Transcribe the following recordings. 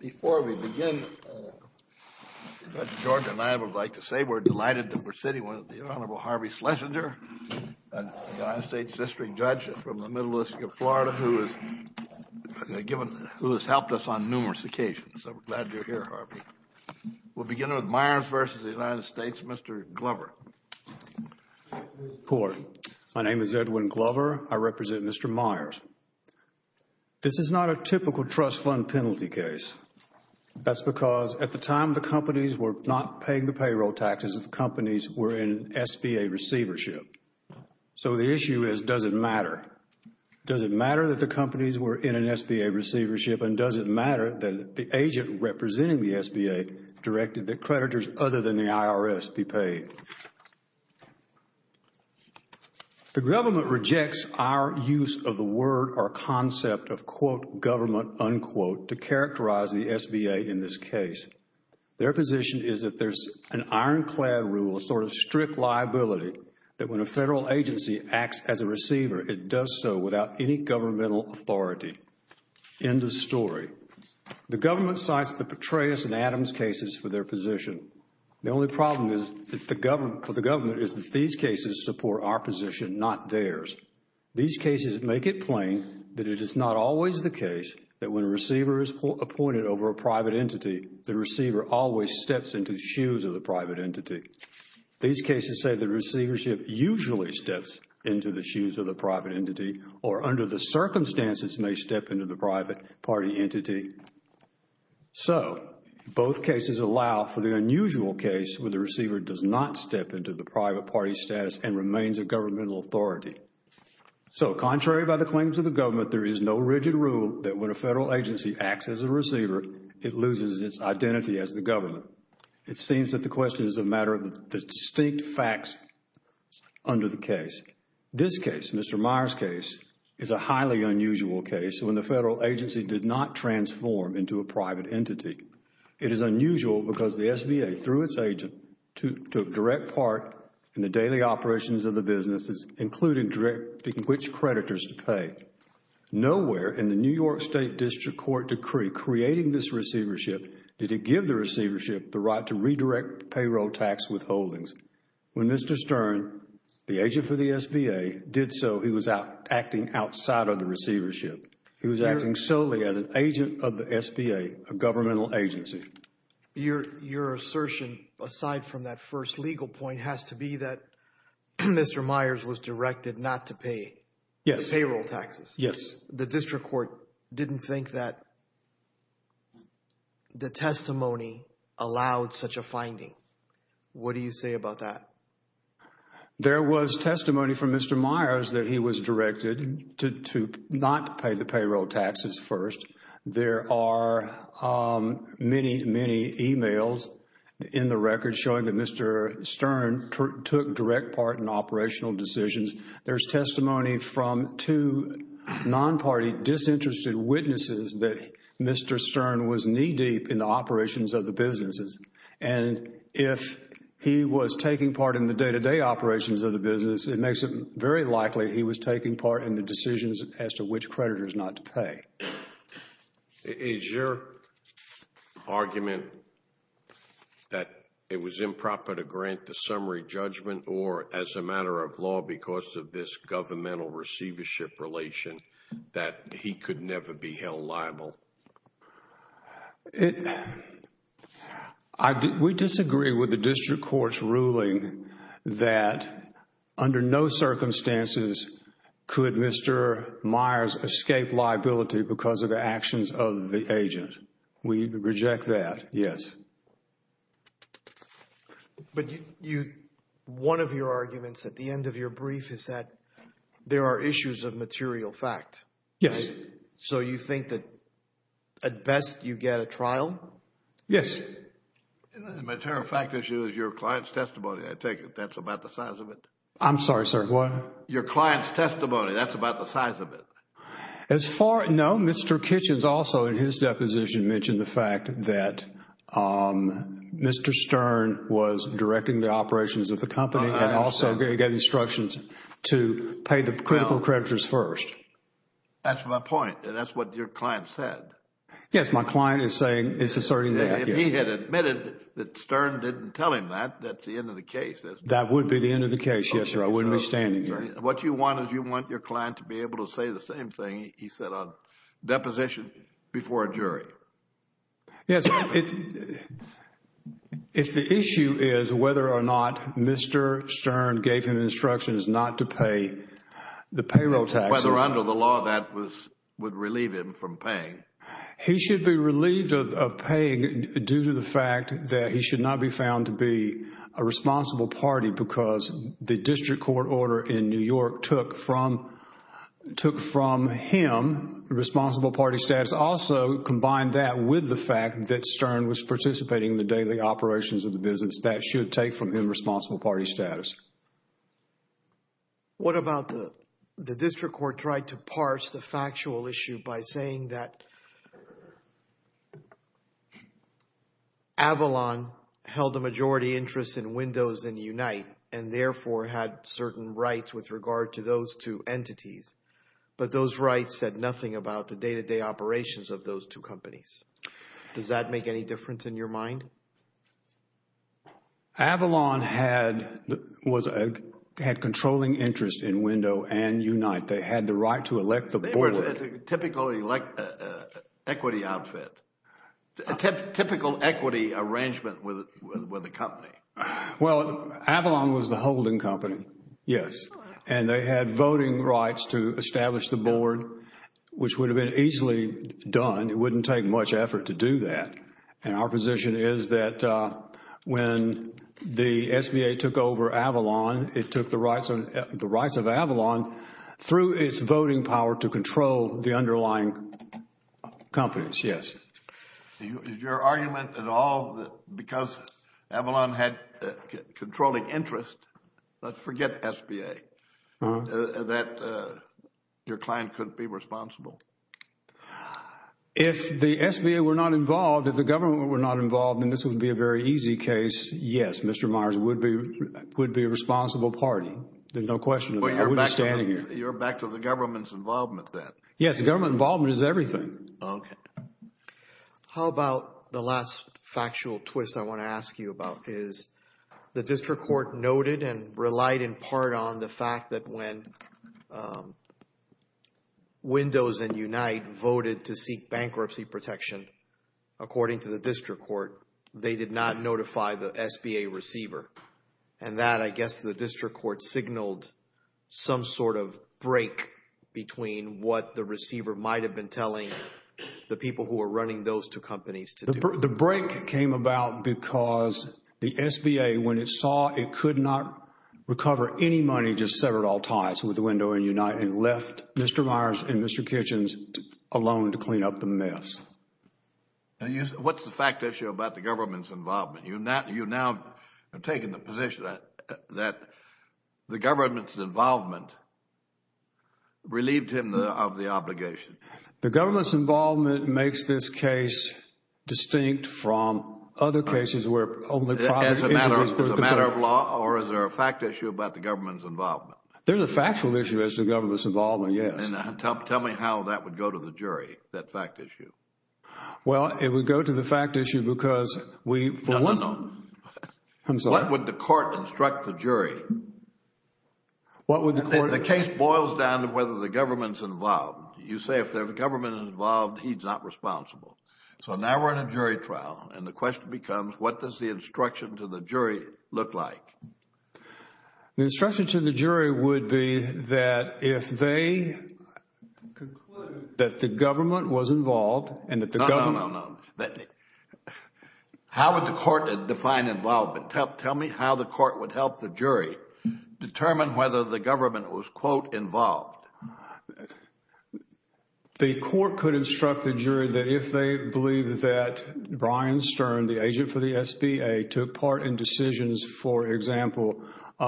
Before we begin, Judge Jordan and I would like to say we're delighted to be sitting with the Honorable Harvey Schlesinger, a United States District Judge from the Middle East of Florida who has helped us on numerous occasions. So we're glad you're here, Harvey. We'll begin with Meyers v. United States. Mr. Glover. Court. My name is Edwin Glover. I represent Mr. Meyers. This is not a typical trust fund penalty case. That's because at the time the companies were not paying the payroll taxes, the companies were in SBA receivership. So the issue is, does it matter? Does it matter that the companies were in an SBA receivership and does it matter that the agent representing the SBA directed that creditors other than the IRS be paid? The government rejects our use of the word or concept of, quote, government, unquote, to characterize the SBA in this case. Their position is that there's an ironclad rule, a sort of strict liability, that when a federal agency acts as a receiver, it does so without any governmental authority. End of story. The government cites the Petraeus and Adams cases for their position. The only problem for the government is that these cases support our position, not theirs. These cases make it plain that it is not always the case that when a receiver is appointed over a private entity, the receiver always steps into the shoes of the private entity. These cases say the receivership usually steps into the shoes of the private entity or under the circumstances may step into the private party entity. So, both cases allow for the unusual case where the receiver does not step into the private party status and remains a governmental authority. So contrary by the claims of the government, there is no rigid rule that when a federal agency acts as a receiver, it loses its identity as the government. It seems that the question is a matter of the distinct facts under the case. This case, Mr. Meyer's case, is a highly unusual case when the federal agency did not transform into a private entity. It is unusual because the SBA, through its agent, took direct part in the daily operations of the businesses, including directing which creditors to pay. Nowhere in the New York State District Court decree creating this receivership did it give the receivership the right to redirect payroll tax withholdings. When Mr. Stern, the agent for the SBA, did so, he was acting outside of the receivership. He was acting solely as an agent of the SBA, a governmental agency. Your assertion, aside from that first legal point, has to be that Mr. Meyer's was directed not to pay the payroll taxes. Yes. The District Court didn't think that the testimony allowed such a finding. What do you say about that? There was testimony from Mr. Meyer's that he was directed to not pay the payroll taxes first. There are many, many emails in the record showing that Mr. Stern took direct part in operational decisions. There's testimony from two non-party disinterested witnesses that Mr. Stern was knee-deep in the operations of the businesses. And if he was taking part in the day-to-day operations of the business, it makes it very likely he was taking part in the decisions as to which creditors not to pay. Is your argument that it was improper to grant the summary judgment or, as a matter of law, because of this governmental receivership relation, that he could never be held liable? We disagree with the District Court's ruling that under no circumstances could Mr. Meyer's escape liability because of the actions of the agent. We reject that, yes. One of your arguments at the end of your brief is that there are issues of material fact. Yes. Is it? So you think that at best, you get a trial? Yes. The material fact issue is your client's testimony, I take it. That's about the size of it? I'm sorry, sir. What? Your client's testimony. That's about the size of it? As far, no. Mr. Kitchens also in his deposition mentioned the fact that Mr. Stern was directing the operations of the company and also gave instructions to pay the critical creditors first. That's my point. That's what your client said. Yes, my client is saying, is asserting that, yes. If he had admitted that Stern didn't tell him that, that's the end of the case. That would be the end of the case, yes, sir. I wouldn't be standing here. What you want is you want your client to be able to say the same thing he said on deposition before a jury. Yes. If the issue is whether or not Mr. Stern gave him instructions not to pay the payroll tax or whether under the law that would relieve him from paying. He should be relieved of paying due to the fact that he should not be found to be a responsible party because the district court order in New York took from him the responsible party status. Also, combine that with the fact that Stern was participating in the daily operations of the business, that should take from him responsible party status. Yes. What about the district court tried to parse the factual issue by saying that Avalon held a majority interest in Windows and Unite and therefore had certain rights with regard to those two entities, but those rights said nothing about the day-to-day operations of those two companies. Does that make any difference in your mind? Avalon had controlling interest in Window and Unite. They had the right to elect the board. They were at a typical equity outfit, a typical equity arrangement with a company. Well, Avalon was the holding company, yes, and they had voting rights to establish the board, which would have been easily done, it wouldn't take much effort to do that. Our position is that when the SBA took over Avalon, it took the rights of Avalon through its voting power to control the underlying companies, yes. Is your argument at all that because Avalon had controlling interest, let's forget SBA, that your client couldn't be responsible? If the SBA were not involved, if the government were not involved, then this would be a very easy case, yes, Mr. Myers would be a responsible party, there's no question of it. I wouldn't be standing here. You're back to the government's involvement then? Yes, the government involvement is everything. How about the last factual twist I want to ask you about is the district court noted and relied in part on the fact that when Windows and Unite voted to seek bankruptcy protection according to the district court, they did not notify the SBA receiver. And that, I guess, the district court signaled some sort of break between what the receiver might have been telling the people who were running those two companies to do. The break came about because the SBA, when it saw it could not recover any money, just severed all ties with Windows and Unite and left Mr. Myers and Mr. Kitchens alone to clean up the mess. What's the fact issue about the government's involvement? You've now taken the position that the government's involvement relieved him of the obligation. The government's involvement makes this case distinct from other cases where only private entities were concerned. As a matter of law or is there a fact issue about the government's involvement? There's a factual issue as to the government's involvement, yes. Tell me how that would go to the jury, that fact issue. Well, it would go to the fact issue because we... No, no, no. I'm sorry. What would the court instruct the jury? What would the court... The case boils down to whether the government's involved. You say if the government is involved, he's not responsible. So now we're in a jury trial and the question becomes what does the instruction to the jury look like? The instruction to the jury would be that if they conclude that the government was involved and that the government... No, no, no. How would the court define involvement? Tell me how the court would help the jury determine whether the government was, quote, involved. The court could instruct the jury that if they believe that Brian Stern, the agent for the SBA, took part in decisions, for example,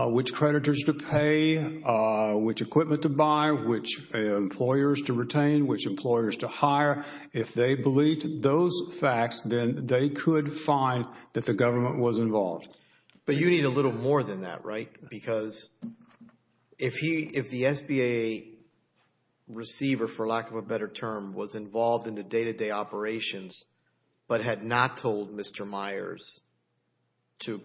which creditors to pay, which equipment to buy, which employers to retain, which employers to hire. If they believed those facts, then they could find that the government was involved. But you need a little more than that, right? Because if the SBA receiver, for lack of a better term, was involved in the day-to-day operations but had not told Mr. Myers to,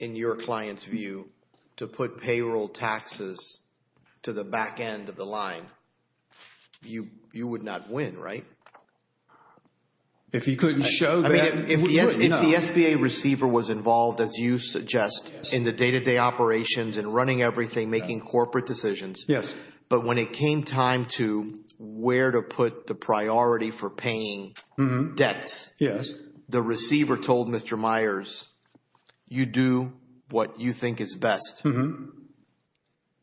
in your client's view, to put payroll taxes to the back end of the line, you would not win, right? If you couldn't show them, you wouldn't, no. I mean, if the SBA receiver was involved, as you suggest, in the day-to-day operations and running everything, making corporate decisions, but when it came time to where to put the priority for paying debts, the receiver told Mr. Myers, you do what you think is best.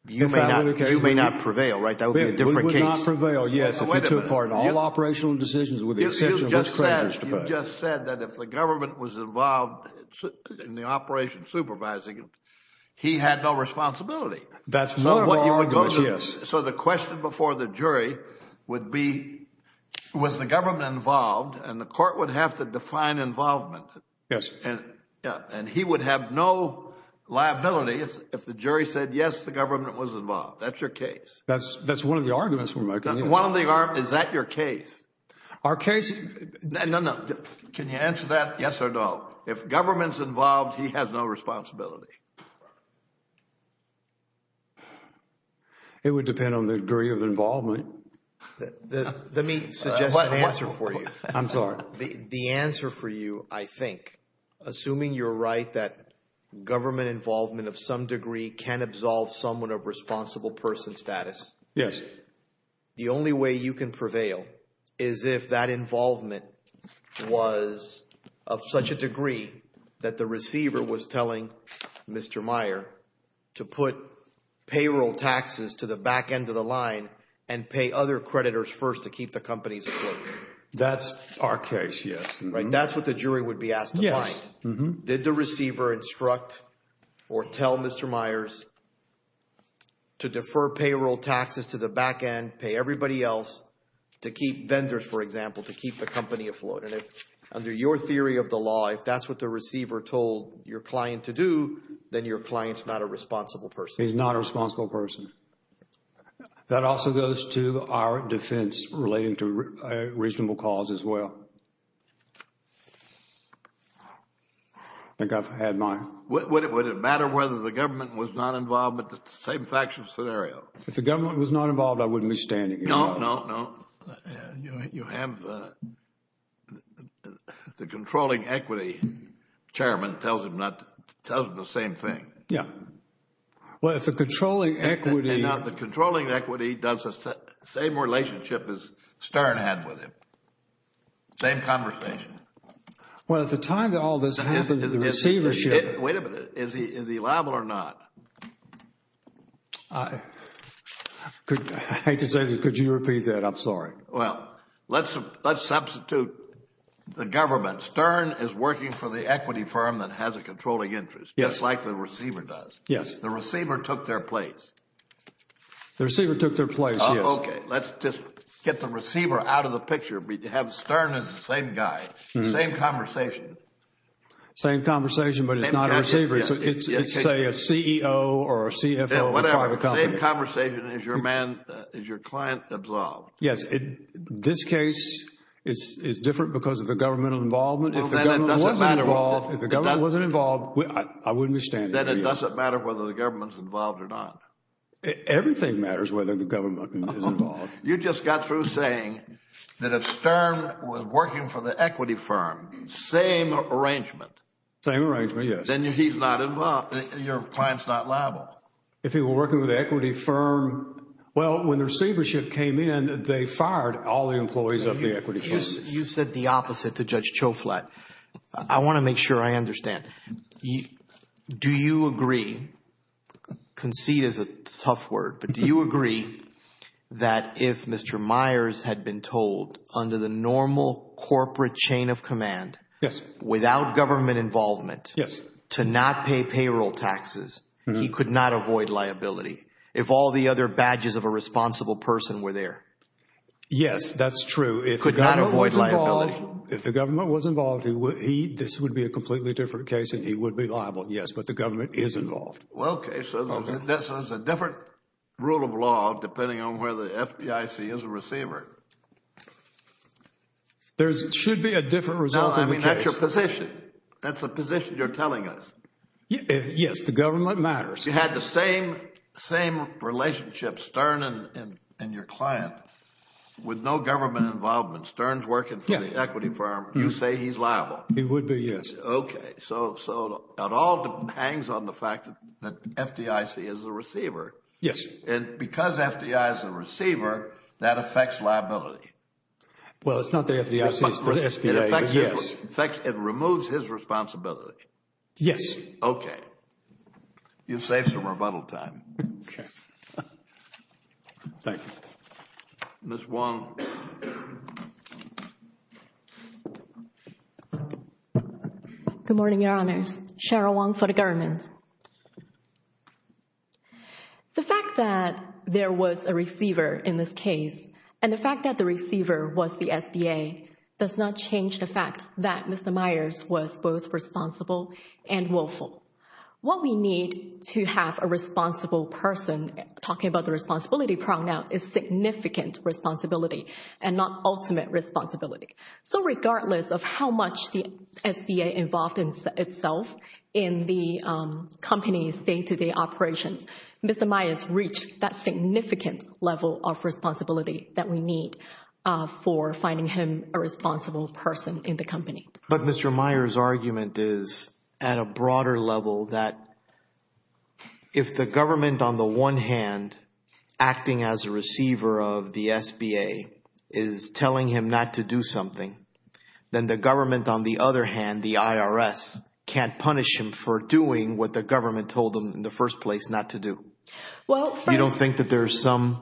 You may not prevail, right? That would be a different case. You would not prevail, yes, if you took part in all operational decisions with the exception of which creditors to pay. You just said that if the government was involved in the operation supervising, he had no responsibility. That's one of our arguments, yes. So the question before the jury would be, was the government involved? And the court would have to define involvement. Yes. And he would have no liability if the jury said, yes, the government was involved. That's your case. That's one of the arguments we're making. Is that your case? Our case... No, no. Can you answer that? Yes or no? If government's involved, he has no responsibility. It would depend on the degree of involvement. Let me suggest one answer for you. I'm sorry. The answer for you, I think, assuming you're right, that government involvement of some degree can absolve someone of responsible person status. Yes. The only way you can prevail is if that involvement was of such a degree that the receiver was telling Mr. Meyer to put payroll taxes to the back end of the line and pay other creditors first to keep the companies afloat. That's our case, yes. That's what the jury would be asked to find. Did the receiver instruct or tell Mr. Meyers to defer payroll taxes to the back end, pay everybody else, to keep vendors, for example, to keep the company afloat? And if, under your theory of the law, if that's what the receiver told your client to do, then your client's not a responsible person. He's not a responsible person. That also goes to our defense relating to a reasonable cause as well. I think I've had mine. Would it matter whether the government was not involved with the same factual scenario? If the government was not involved, I wouldn't be standing here. No, no, no. You have the controlling equity chairman tells him the same thing. Yes. Well, if the controlling equity... And now the controlling equity does the same relationship as Stern had with him, same conversation. Well, at the time that all this happened, the receivership... Wait a minute. Is he liable or not? I hate to say this. Could you repeat that? I'm sorry. Well, let's substitute the government. Stern is working for the equity firm that has a controlling interest. Yes. Just like the receiver does. Yes. The receiver took their place. The receiver took their place, yes. Okay. Let's just get the receiver out of the picture. We have Stern as the same guy, same conversation. Same conversation, but it's not a receiver. It's, say, a CEO or a CFO of a private company. Whatever. Same conversation as your client absolved. Yes. This case is different because of the governmental involvement. If the government wasn't involved, I wouldn't be standing here. Then it doesn't matter whether the government is involved or not. Everything matters whether the government is involved. You just got through saying that if Stern was working for the equity firm, same arrangement. Same arrangement, yes. Then he's not involved. Your client is not liable. If he were working for the equity firm... Well, when the receivership came in, they fired all the employees of the equity firm. You said the opposite to Judge Choflat. I want to make sure I understand. Do you agree, concede is a tough word, but do you agree that if Mr. Myers had been told under the normal corporate chain of command... Yes.... without government involvement... Yes.... to not pay payroll taxes, he could not avoid liability if all the other badges of a responsible person were there? Yes, that's true. If the government was involved... Could not avoid liability? If the government was involved, this would be a completely different case and he would be liable, yes, but the government is involved. Okay, so there's a different rule of law depending on whether the FBIC is a receiver. There should be a different result in the case. No, I mean that's your position. That's the position you're telling us. Yes, the government matters. You had the same relationship, Stern and your client, with no government involvement. Stern's working for the equity firm. You say he's liable. He would be, yes. Okay, so it all hangs on the fact that FBIC is a receiver. Yes. And because FBIC is a receiver, that affects liability. Well, it's not the FBIC, it's the SBA, but yes. In fact, it removes his responsibility. Yes. Okay. You've saved some rebuttal time. Okay. Thank you. Ms. Wang. Good morning, Your Honors. Cheryl Wang for the government. The fact that there was a receiver in this case and the fact that the receiver was the SBA does not change the fact that Mr. Myers was both responsible and willful. What we need to have a responsible person, talking about the responsibility pronoun, is significant responsibility and not ultimate responsibility. So regardless of how much the SBA involved itself in the company's day-to-day operations, Mr. Myers reached that significant level of responsibility that we need for finding him a responsible person in the company. But Mr. Myers' argument is at a broader level that if the government, on the one hand, acting as a receiver of the SBA is telling him not to do something, then the government, on the other hand, the IRS can't punish him for doing what the government told him in the first place not to do. You don't think that there's something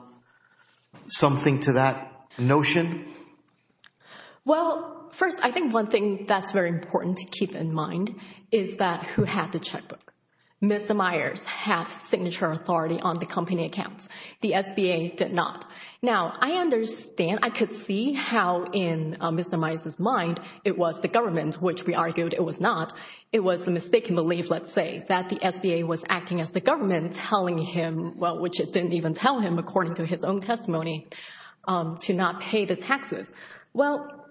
to that notion? Well, first, I think one thing that's very important to keep in mind is that who had the checkbook. Mr. Myers has signature authority on the company accounts. The SBA did not. Now, I understand, I could see how in Mr. Myers' mind it was the government, which we argued it was not. It was a mistaken belief, let's say, that the SBA was acting as the government telling him, well, which it didn't even tell him according to his own testimony, to not pay the taxes. Well,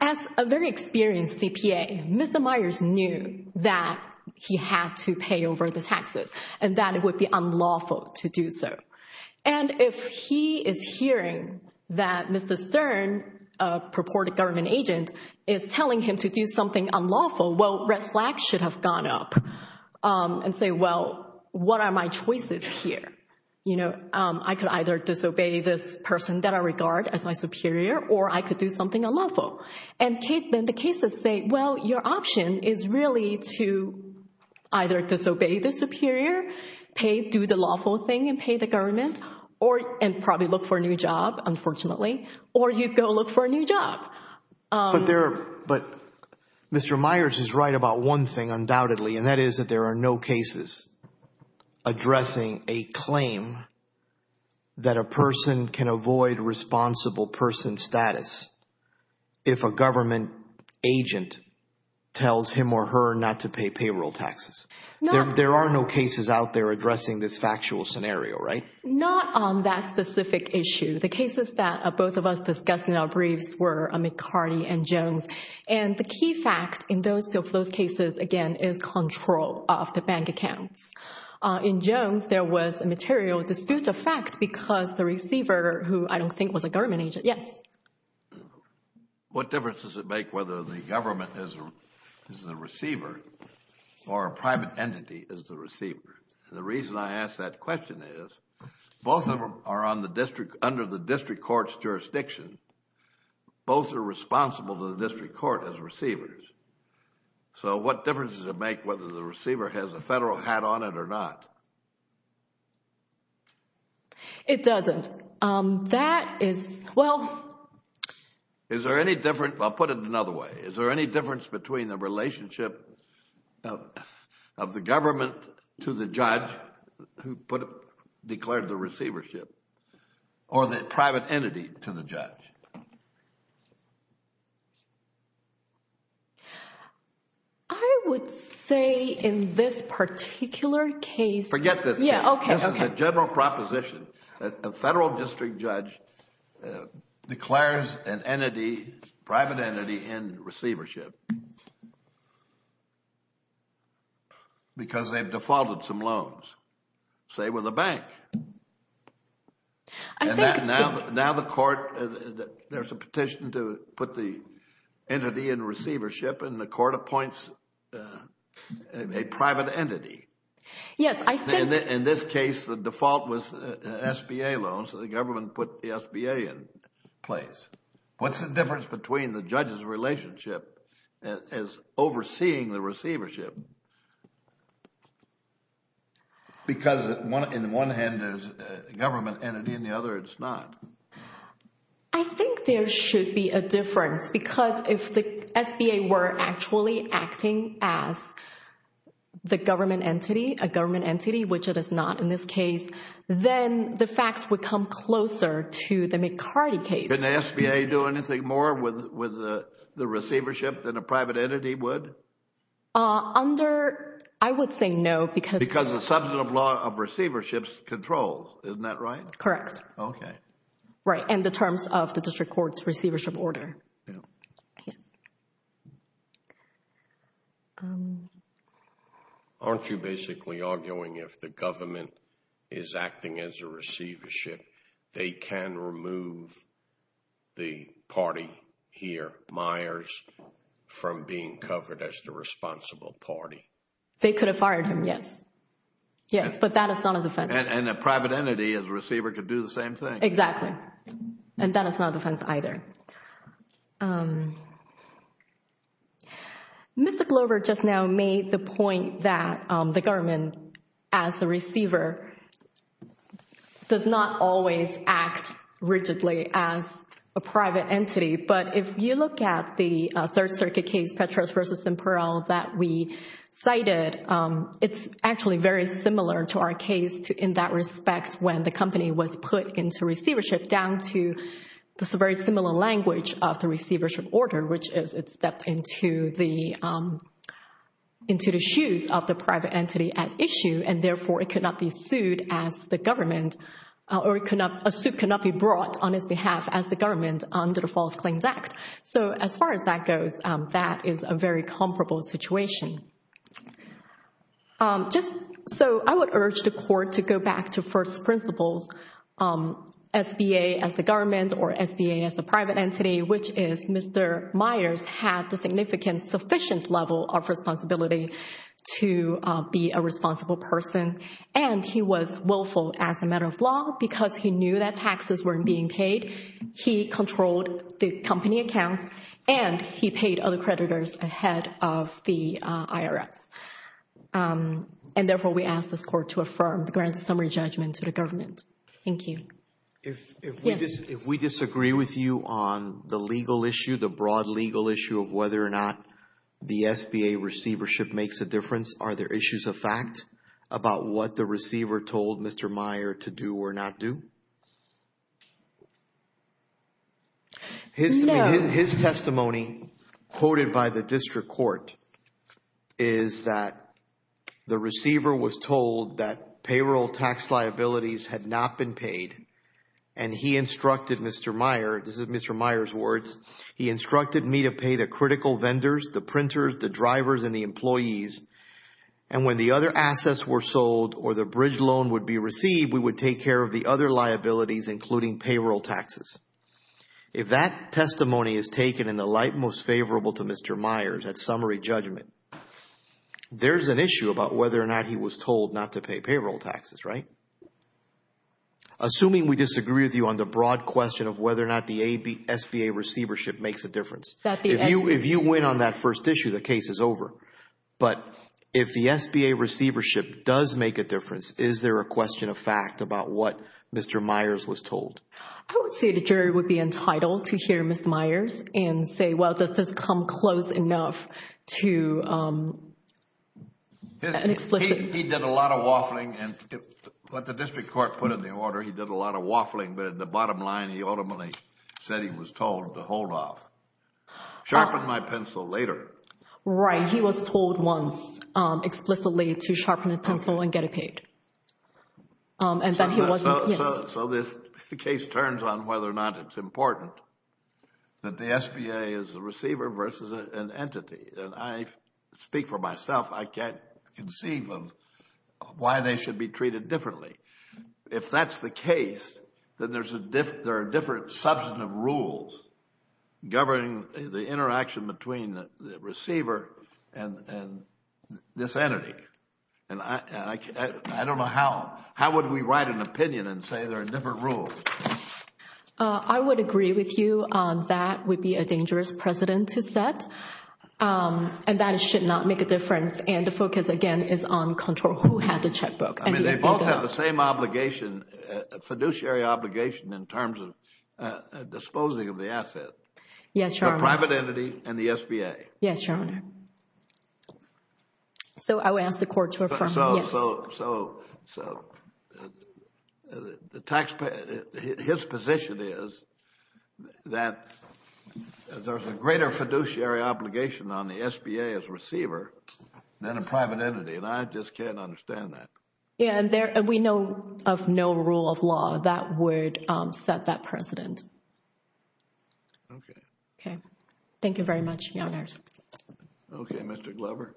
as a very experienced CPA, Mr. Myers knew that he had to pay over the taxes and that it would be unlawful to do so. And if he is hearing that Mr. Stern, a purported government agent, is telling him to do something unlawful, well, red flags should have gone up and say, well, what are my choices here? You know, I could either disobey this person that I regard as my superior or I could do something unlawful. And then the cases say, well, your option is really to either disobey the superior, do the lawful thing and pay the government and probably look for a new job, unfortunately, or you go look for a new job. But Mr. Myers is right about one thing undoubtedly, and that is that there are no cases addressing a claim that a person can avoid responsible person status if a government agent tells him or her not to pay payroll taxes. There are no cases out there addressing this factual scenario, right? Not on that specific issue. The cases that both of us discussed in our briefs were McCarty and Jones. And the key fact in those cases, again, is control of the bank accounts. In Jones, there was a material dispute of fact because the receiver, who I don't think was a government agent, yes. What difference does it make whether the government is the receiver or a private entity is the receiver? And the reason I ask that question is both of them are under the district court's jurisdiction. Both are responsible to the district court as receivers. So what difference does it make whether the receiver has a federal hat on it or not? It doesn't. That is, well... Is there any difference, I'll put it another way. Is there any difference between the relationship of the government to the judge who declared the receivership or the private entity to the judge? I would say in this particular case... Forget this case. This is a general proposition. A federal district judge declares an entity, private entity, in receivership because they've defaulted some loans, say with a bank. Now the court... There's a petition to put the entity in receivership, and the court appoints a private entity. Yes, I think... In this case, the default was SBA loans, so the government put the SBA in place. What's the difference between the judge's relationship as overseeing the receivership? Because in one hand, there's a government entity. In the other, it's not. I think there should be a difference because if the SBA were actually acting as the government entity, a government entity, which it is not in this case, then the facts would come closer to the McCarty case. Can the SBA do anything more with the receivership than a private entity would? Under... I would say no because... Because the substantive law of receivership controls, isn't that right? Correct. Okay. Right, and the terms of the district court's receivership order. Yes. Aren't you basically arguing if the government is acting as a receivership, they can remove the party here, Myers, from being covered as the responsible party? They could have fired him, yes. Yes, but that is not a defense. And a private entity as a receiver could do the same thing. Exactly, and that is not a defense either. Mr. Glover just now made the point that the government as a receiver does not always act rigidly as a private entity, but if you look at the Third Circuit case, Petras v. Simperl, that we cited, it's actually very similar to our case in that respect when the company was put into receivership, it's down to the very similar language of the receivership order, which is it's stepped into the shoes of the private entity at issue, and therefore it cannot be sued as the government, or a suit cannot be brought on its behalf as the government under the False Claims Act. So as far as that goes, that is a very comparable situation. So I would urge the Court to go back to first principles, SBA as the government or SBA as the private entity, which is Mr. Myers had the significant sufficient level of responsibility to be a responsible person, and he was willful as a matter of law because he knew that taxes weren't being paid. He controlled the company accounts, and he paid other creditors ahead of the IRS, and therefore we ask this Court to affirm the grand summary judgment to the government. Thank you. If we disagree with you on the legal issue, the broad legal issue of whether or not the SBA receivership makes a difference, are there issues of fact about what the receiver told Mr. Myers to do or not do? His testimony quoted by the district court is that the receiver was told that payroll tax liabilities had not been paid, and he instructed Mr. Myers, this is Mr. Myers' words, he instructed me to pay the critical vendors, the printers, the drivers, and the employees, and when the other assets were sold or the bridge loan would be received, we would take care of the other liabilities including payroll taxes. If that testimony is taken in the light most favorable to Mr. Myers at summary judgment, there's an issue about whether or not he was told not to pay payroll taxes, right? Assuming we disagree with you on the broad question of whether or not the SBA receivership makes a difference, if you win on that first issue, the case is over, but if the SBA receivership does make a difference, is there a question of fact about what Mr. Myers was told? I would say the jury would be entitled to hear Mr. Myers and say, well, does this come close enough to an explicit… He did a lot of waffling and what the district court put in the order, he did a lot of waffling, but at the bottom line, he ultimately said he was told to hold off. Sharpen my pencil later. Right, he was told once explicitly to sharpen a pencil and get it paid. So this case turns on whether or not it's important that the SBA is a receiver versus an entity. I speak for myself. I can't conceive of why they should be treated differently. If that's the case, then there are different substantive rules governing the interaction between the receiver and this entity. I don't know how. How would we write an opinion and say there are different rules? I would agree with you that would be a dangerous precedent to set and that it should not make a difference and the focus, again, is on control. Who had the checkbook? I mean, they both have the same obligation, fiduciary obligation in terms of disposing of the asset. Yes, Your Honor. The private entity and the SBA. Yes, Your Honor. So I will ask the court to affirm. So his position is that there's a greater fiduciary obligation on the SBA as receiver than a private entity and I just can't understand that. Yes, and we know of no rule of law that would set that precedent. Okay. Okay. Thank you very much, Your Honors. Okay, Mr. Glover.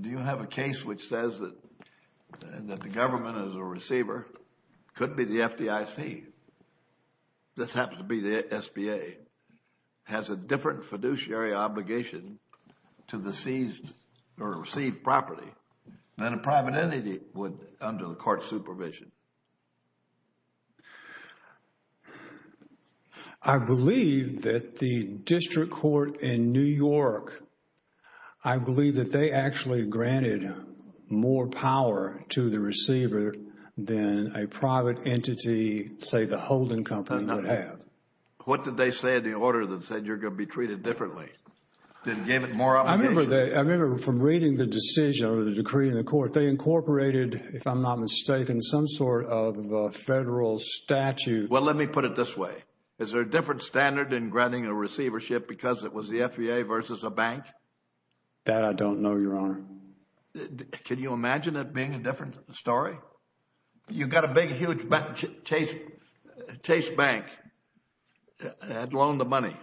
Do you have a case which says that the government is a receiver? It could be the FDIC. This happens to be the SBA. The SBA has a different fiduciary obligation to the seized or received property than a private entity would under the court supervision. I believe that the district court in New York, I believe that they actually granted more power to the receiver than a private entity, say the holding company, would have. What did they say in the order that said you're going to be treated differently? They gave it more obligation? I remember from reading the decision or the decree in the court, they incorporated, if I'm not mistaken, some sort of federal statute. Well, let me put it this way. Is there a different standard in granting a receivership because it was the SBA versus a bank? That I don't know, Your Honor. Can you imagine it being a different story? You've got a big, huge Chase Bank that loaned the money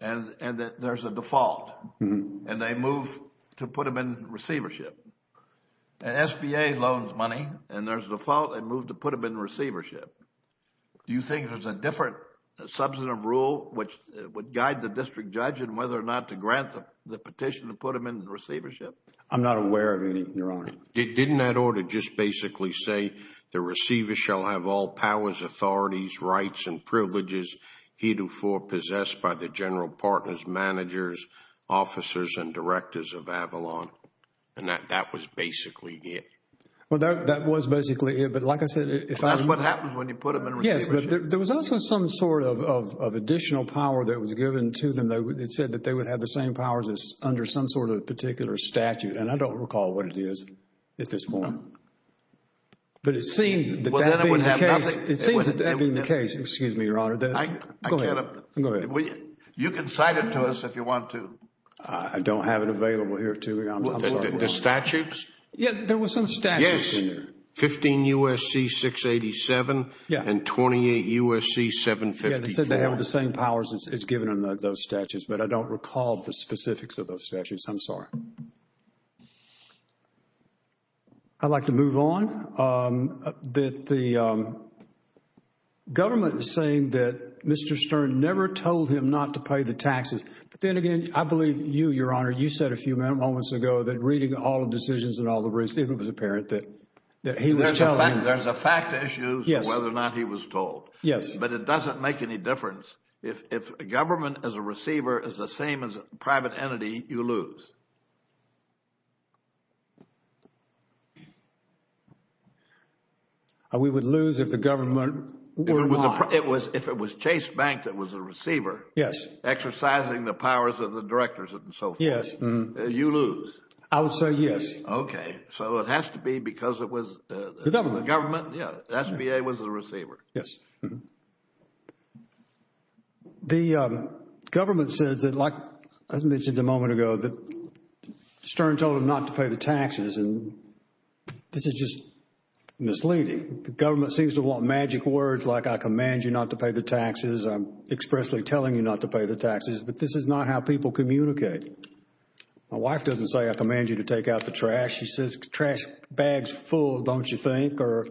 and there's a default and they move to put them in receivership. An SBA loans money and there's a default and move to put them in receivership. Do you think there's a different substantive rule which would guide the district judge in whether or not to grant the petition to put them in receivership? I'm not aware of any, Your Honor. Didn't that order just basically say, the receiver shall have all powers, authorities, rights, and privileges heretofore possessed by the general partners, managers, officers, and directors of Avalon? And that was basically it. Well, that was basically it. But like I said, if I— That's what happens when you put them in receivership. Yes, but there was also some sort of additional power that was given to them that said that they would have the same powers as under some sort of particular statute. And I don't recall what it is at this point. But it seems that that being the case. It seems that that being the case. Excuse me, Your Honor. Go ahead. You can cite it to us if you want to. I don't have it available here, too. The statutes? Yes, there were some statutes in there. Yes, 15 U.S.C. 687 and 28 U.S.C. 754. It said they have the same powers as given in those statutes, but I don't recall the specifics of those statutes. I'm sorry. I'd like to move on. The government is saying that Mr. Stern never told him not to pay the taxes. But then again, I believe you, Your Honor, you said a few moments ago that reading all the decisions and all the receipts, it was apparent that he was telling— There's a fact issue as to whether or not he was told. Yes. But it doesn't make any difference. If government as a receiver is the same as a private entity, you lose. We would lose if the government were not— If it was Chase Bank that was a receiver exercising the powers of the directors and so forth, you lose. I would say yes. So it has to be because it was the government. The government. And it was the receiver. Yes. The government says that, like I mentioned a moment ago, that Stern told him not to pay the taxes, and this is just misleading. The government seems to want magic words like, I command you not to pay the taxes, I'm expressly telling you not to pay the taxes, but this is not how people communicate. My wife doesn't say, I command you to take out the trash. She says, trash bag's full, don't you think? Or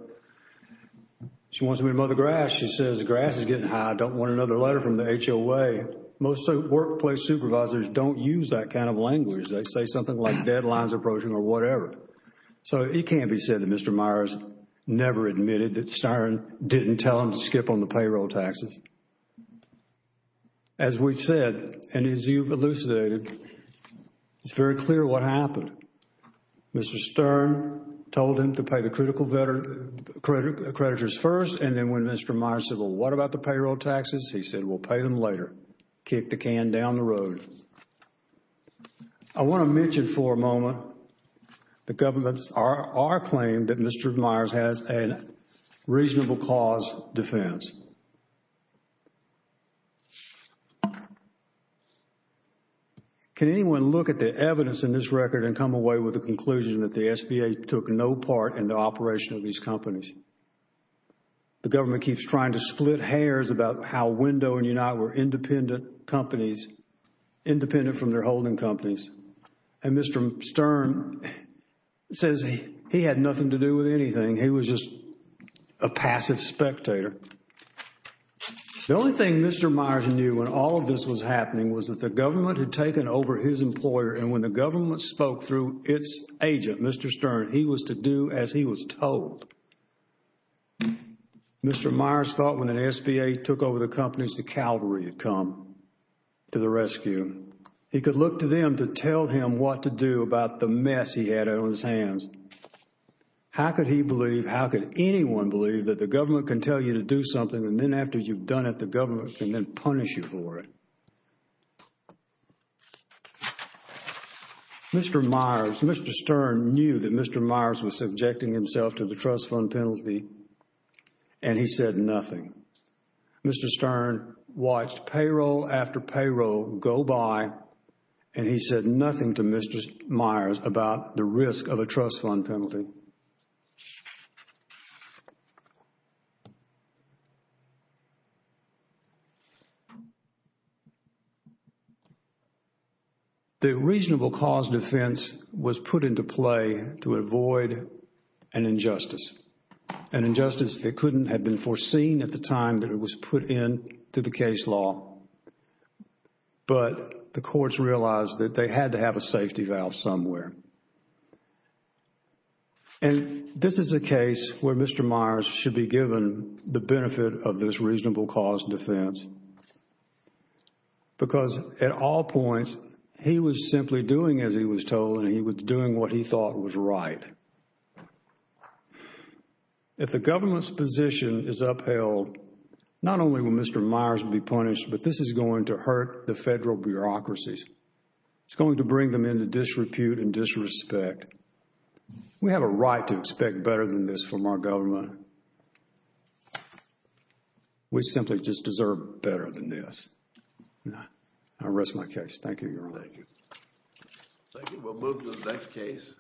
she wants me to mow the grass. She says, grass is getting high. I don't want another letter from the HOA. Most workplace supervisors don't use that kind of language. They say something like, deadline's approaching or whatever. So it can't be said that Mr. Myers never admitted that Stern didn't tell him to skip on the payroll taxes. As we've said, and as you've elucidated, it's very clear what happened. Mr. Stern told him to pay the critical creditors first, and then when Mr. Myers said, well, what about the payroll taxes? He said, we'll pay them later. Kicked the can down the road. I want to mention for a moment the government's, our claim that Mr. Myers has a reasonable cause defense. Can anyone look at the evidence in this record and come away with the conclusion that the SBA took no part in the operation of these companies? The government keeps trying to split hairs about how Window and Unite were independent companies, independent from their holding companies. And Mr. Stern says he had nothing to do with anything. He was just a passive spectator. The only thing Mr. Myers knew when all of this was happening was that the government had taken over his employer, and when the government spoke through its agent, Mr. Stern, he was to do as he was told. Mr. Myers thought when the SBA took over the companies, the Calvary had come to the rescue. He could look to them to tell him what to do about the mess he had on his hands. How could he believe, how could anyone believe that the government can tell you to do something and then after you've done it, the government can then punish you for it? Mr. Myers, Mr. Stern knew that Mr. Myers was subjecting himself to the trust fund penalty, and he said nothing. Mr. Stern watched payroll after payroll go by, and he said nothing to Mr. Myers about the risk of a trust fund penalty. The reasonable cause defense was put into play to avoid an injustice, an injustice that couldn't have been foreseen at the time that it was put into the case law, but the courts realized that they had to have a safety valve somewhere. And this is a case where Mr. Myers should be given the benefit of this reasonable cause defense, because at all points, he was simply doing as he was told, and he was doing what he thought was right. If the government's position is upheld, not only will Mr. Myers be punished, but this is going to hurt the federal bureaucracies. It's going to bring them into disrepute and disrespect. We have a right to expect better than this from our government. We simply just deserve better than this. I rest my case. Thank you, Your Honor. Thank you. We'll move to the next case.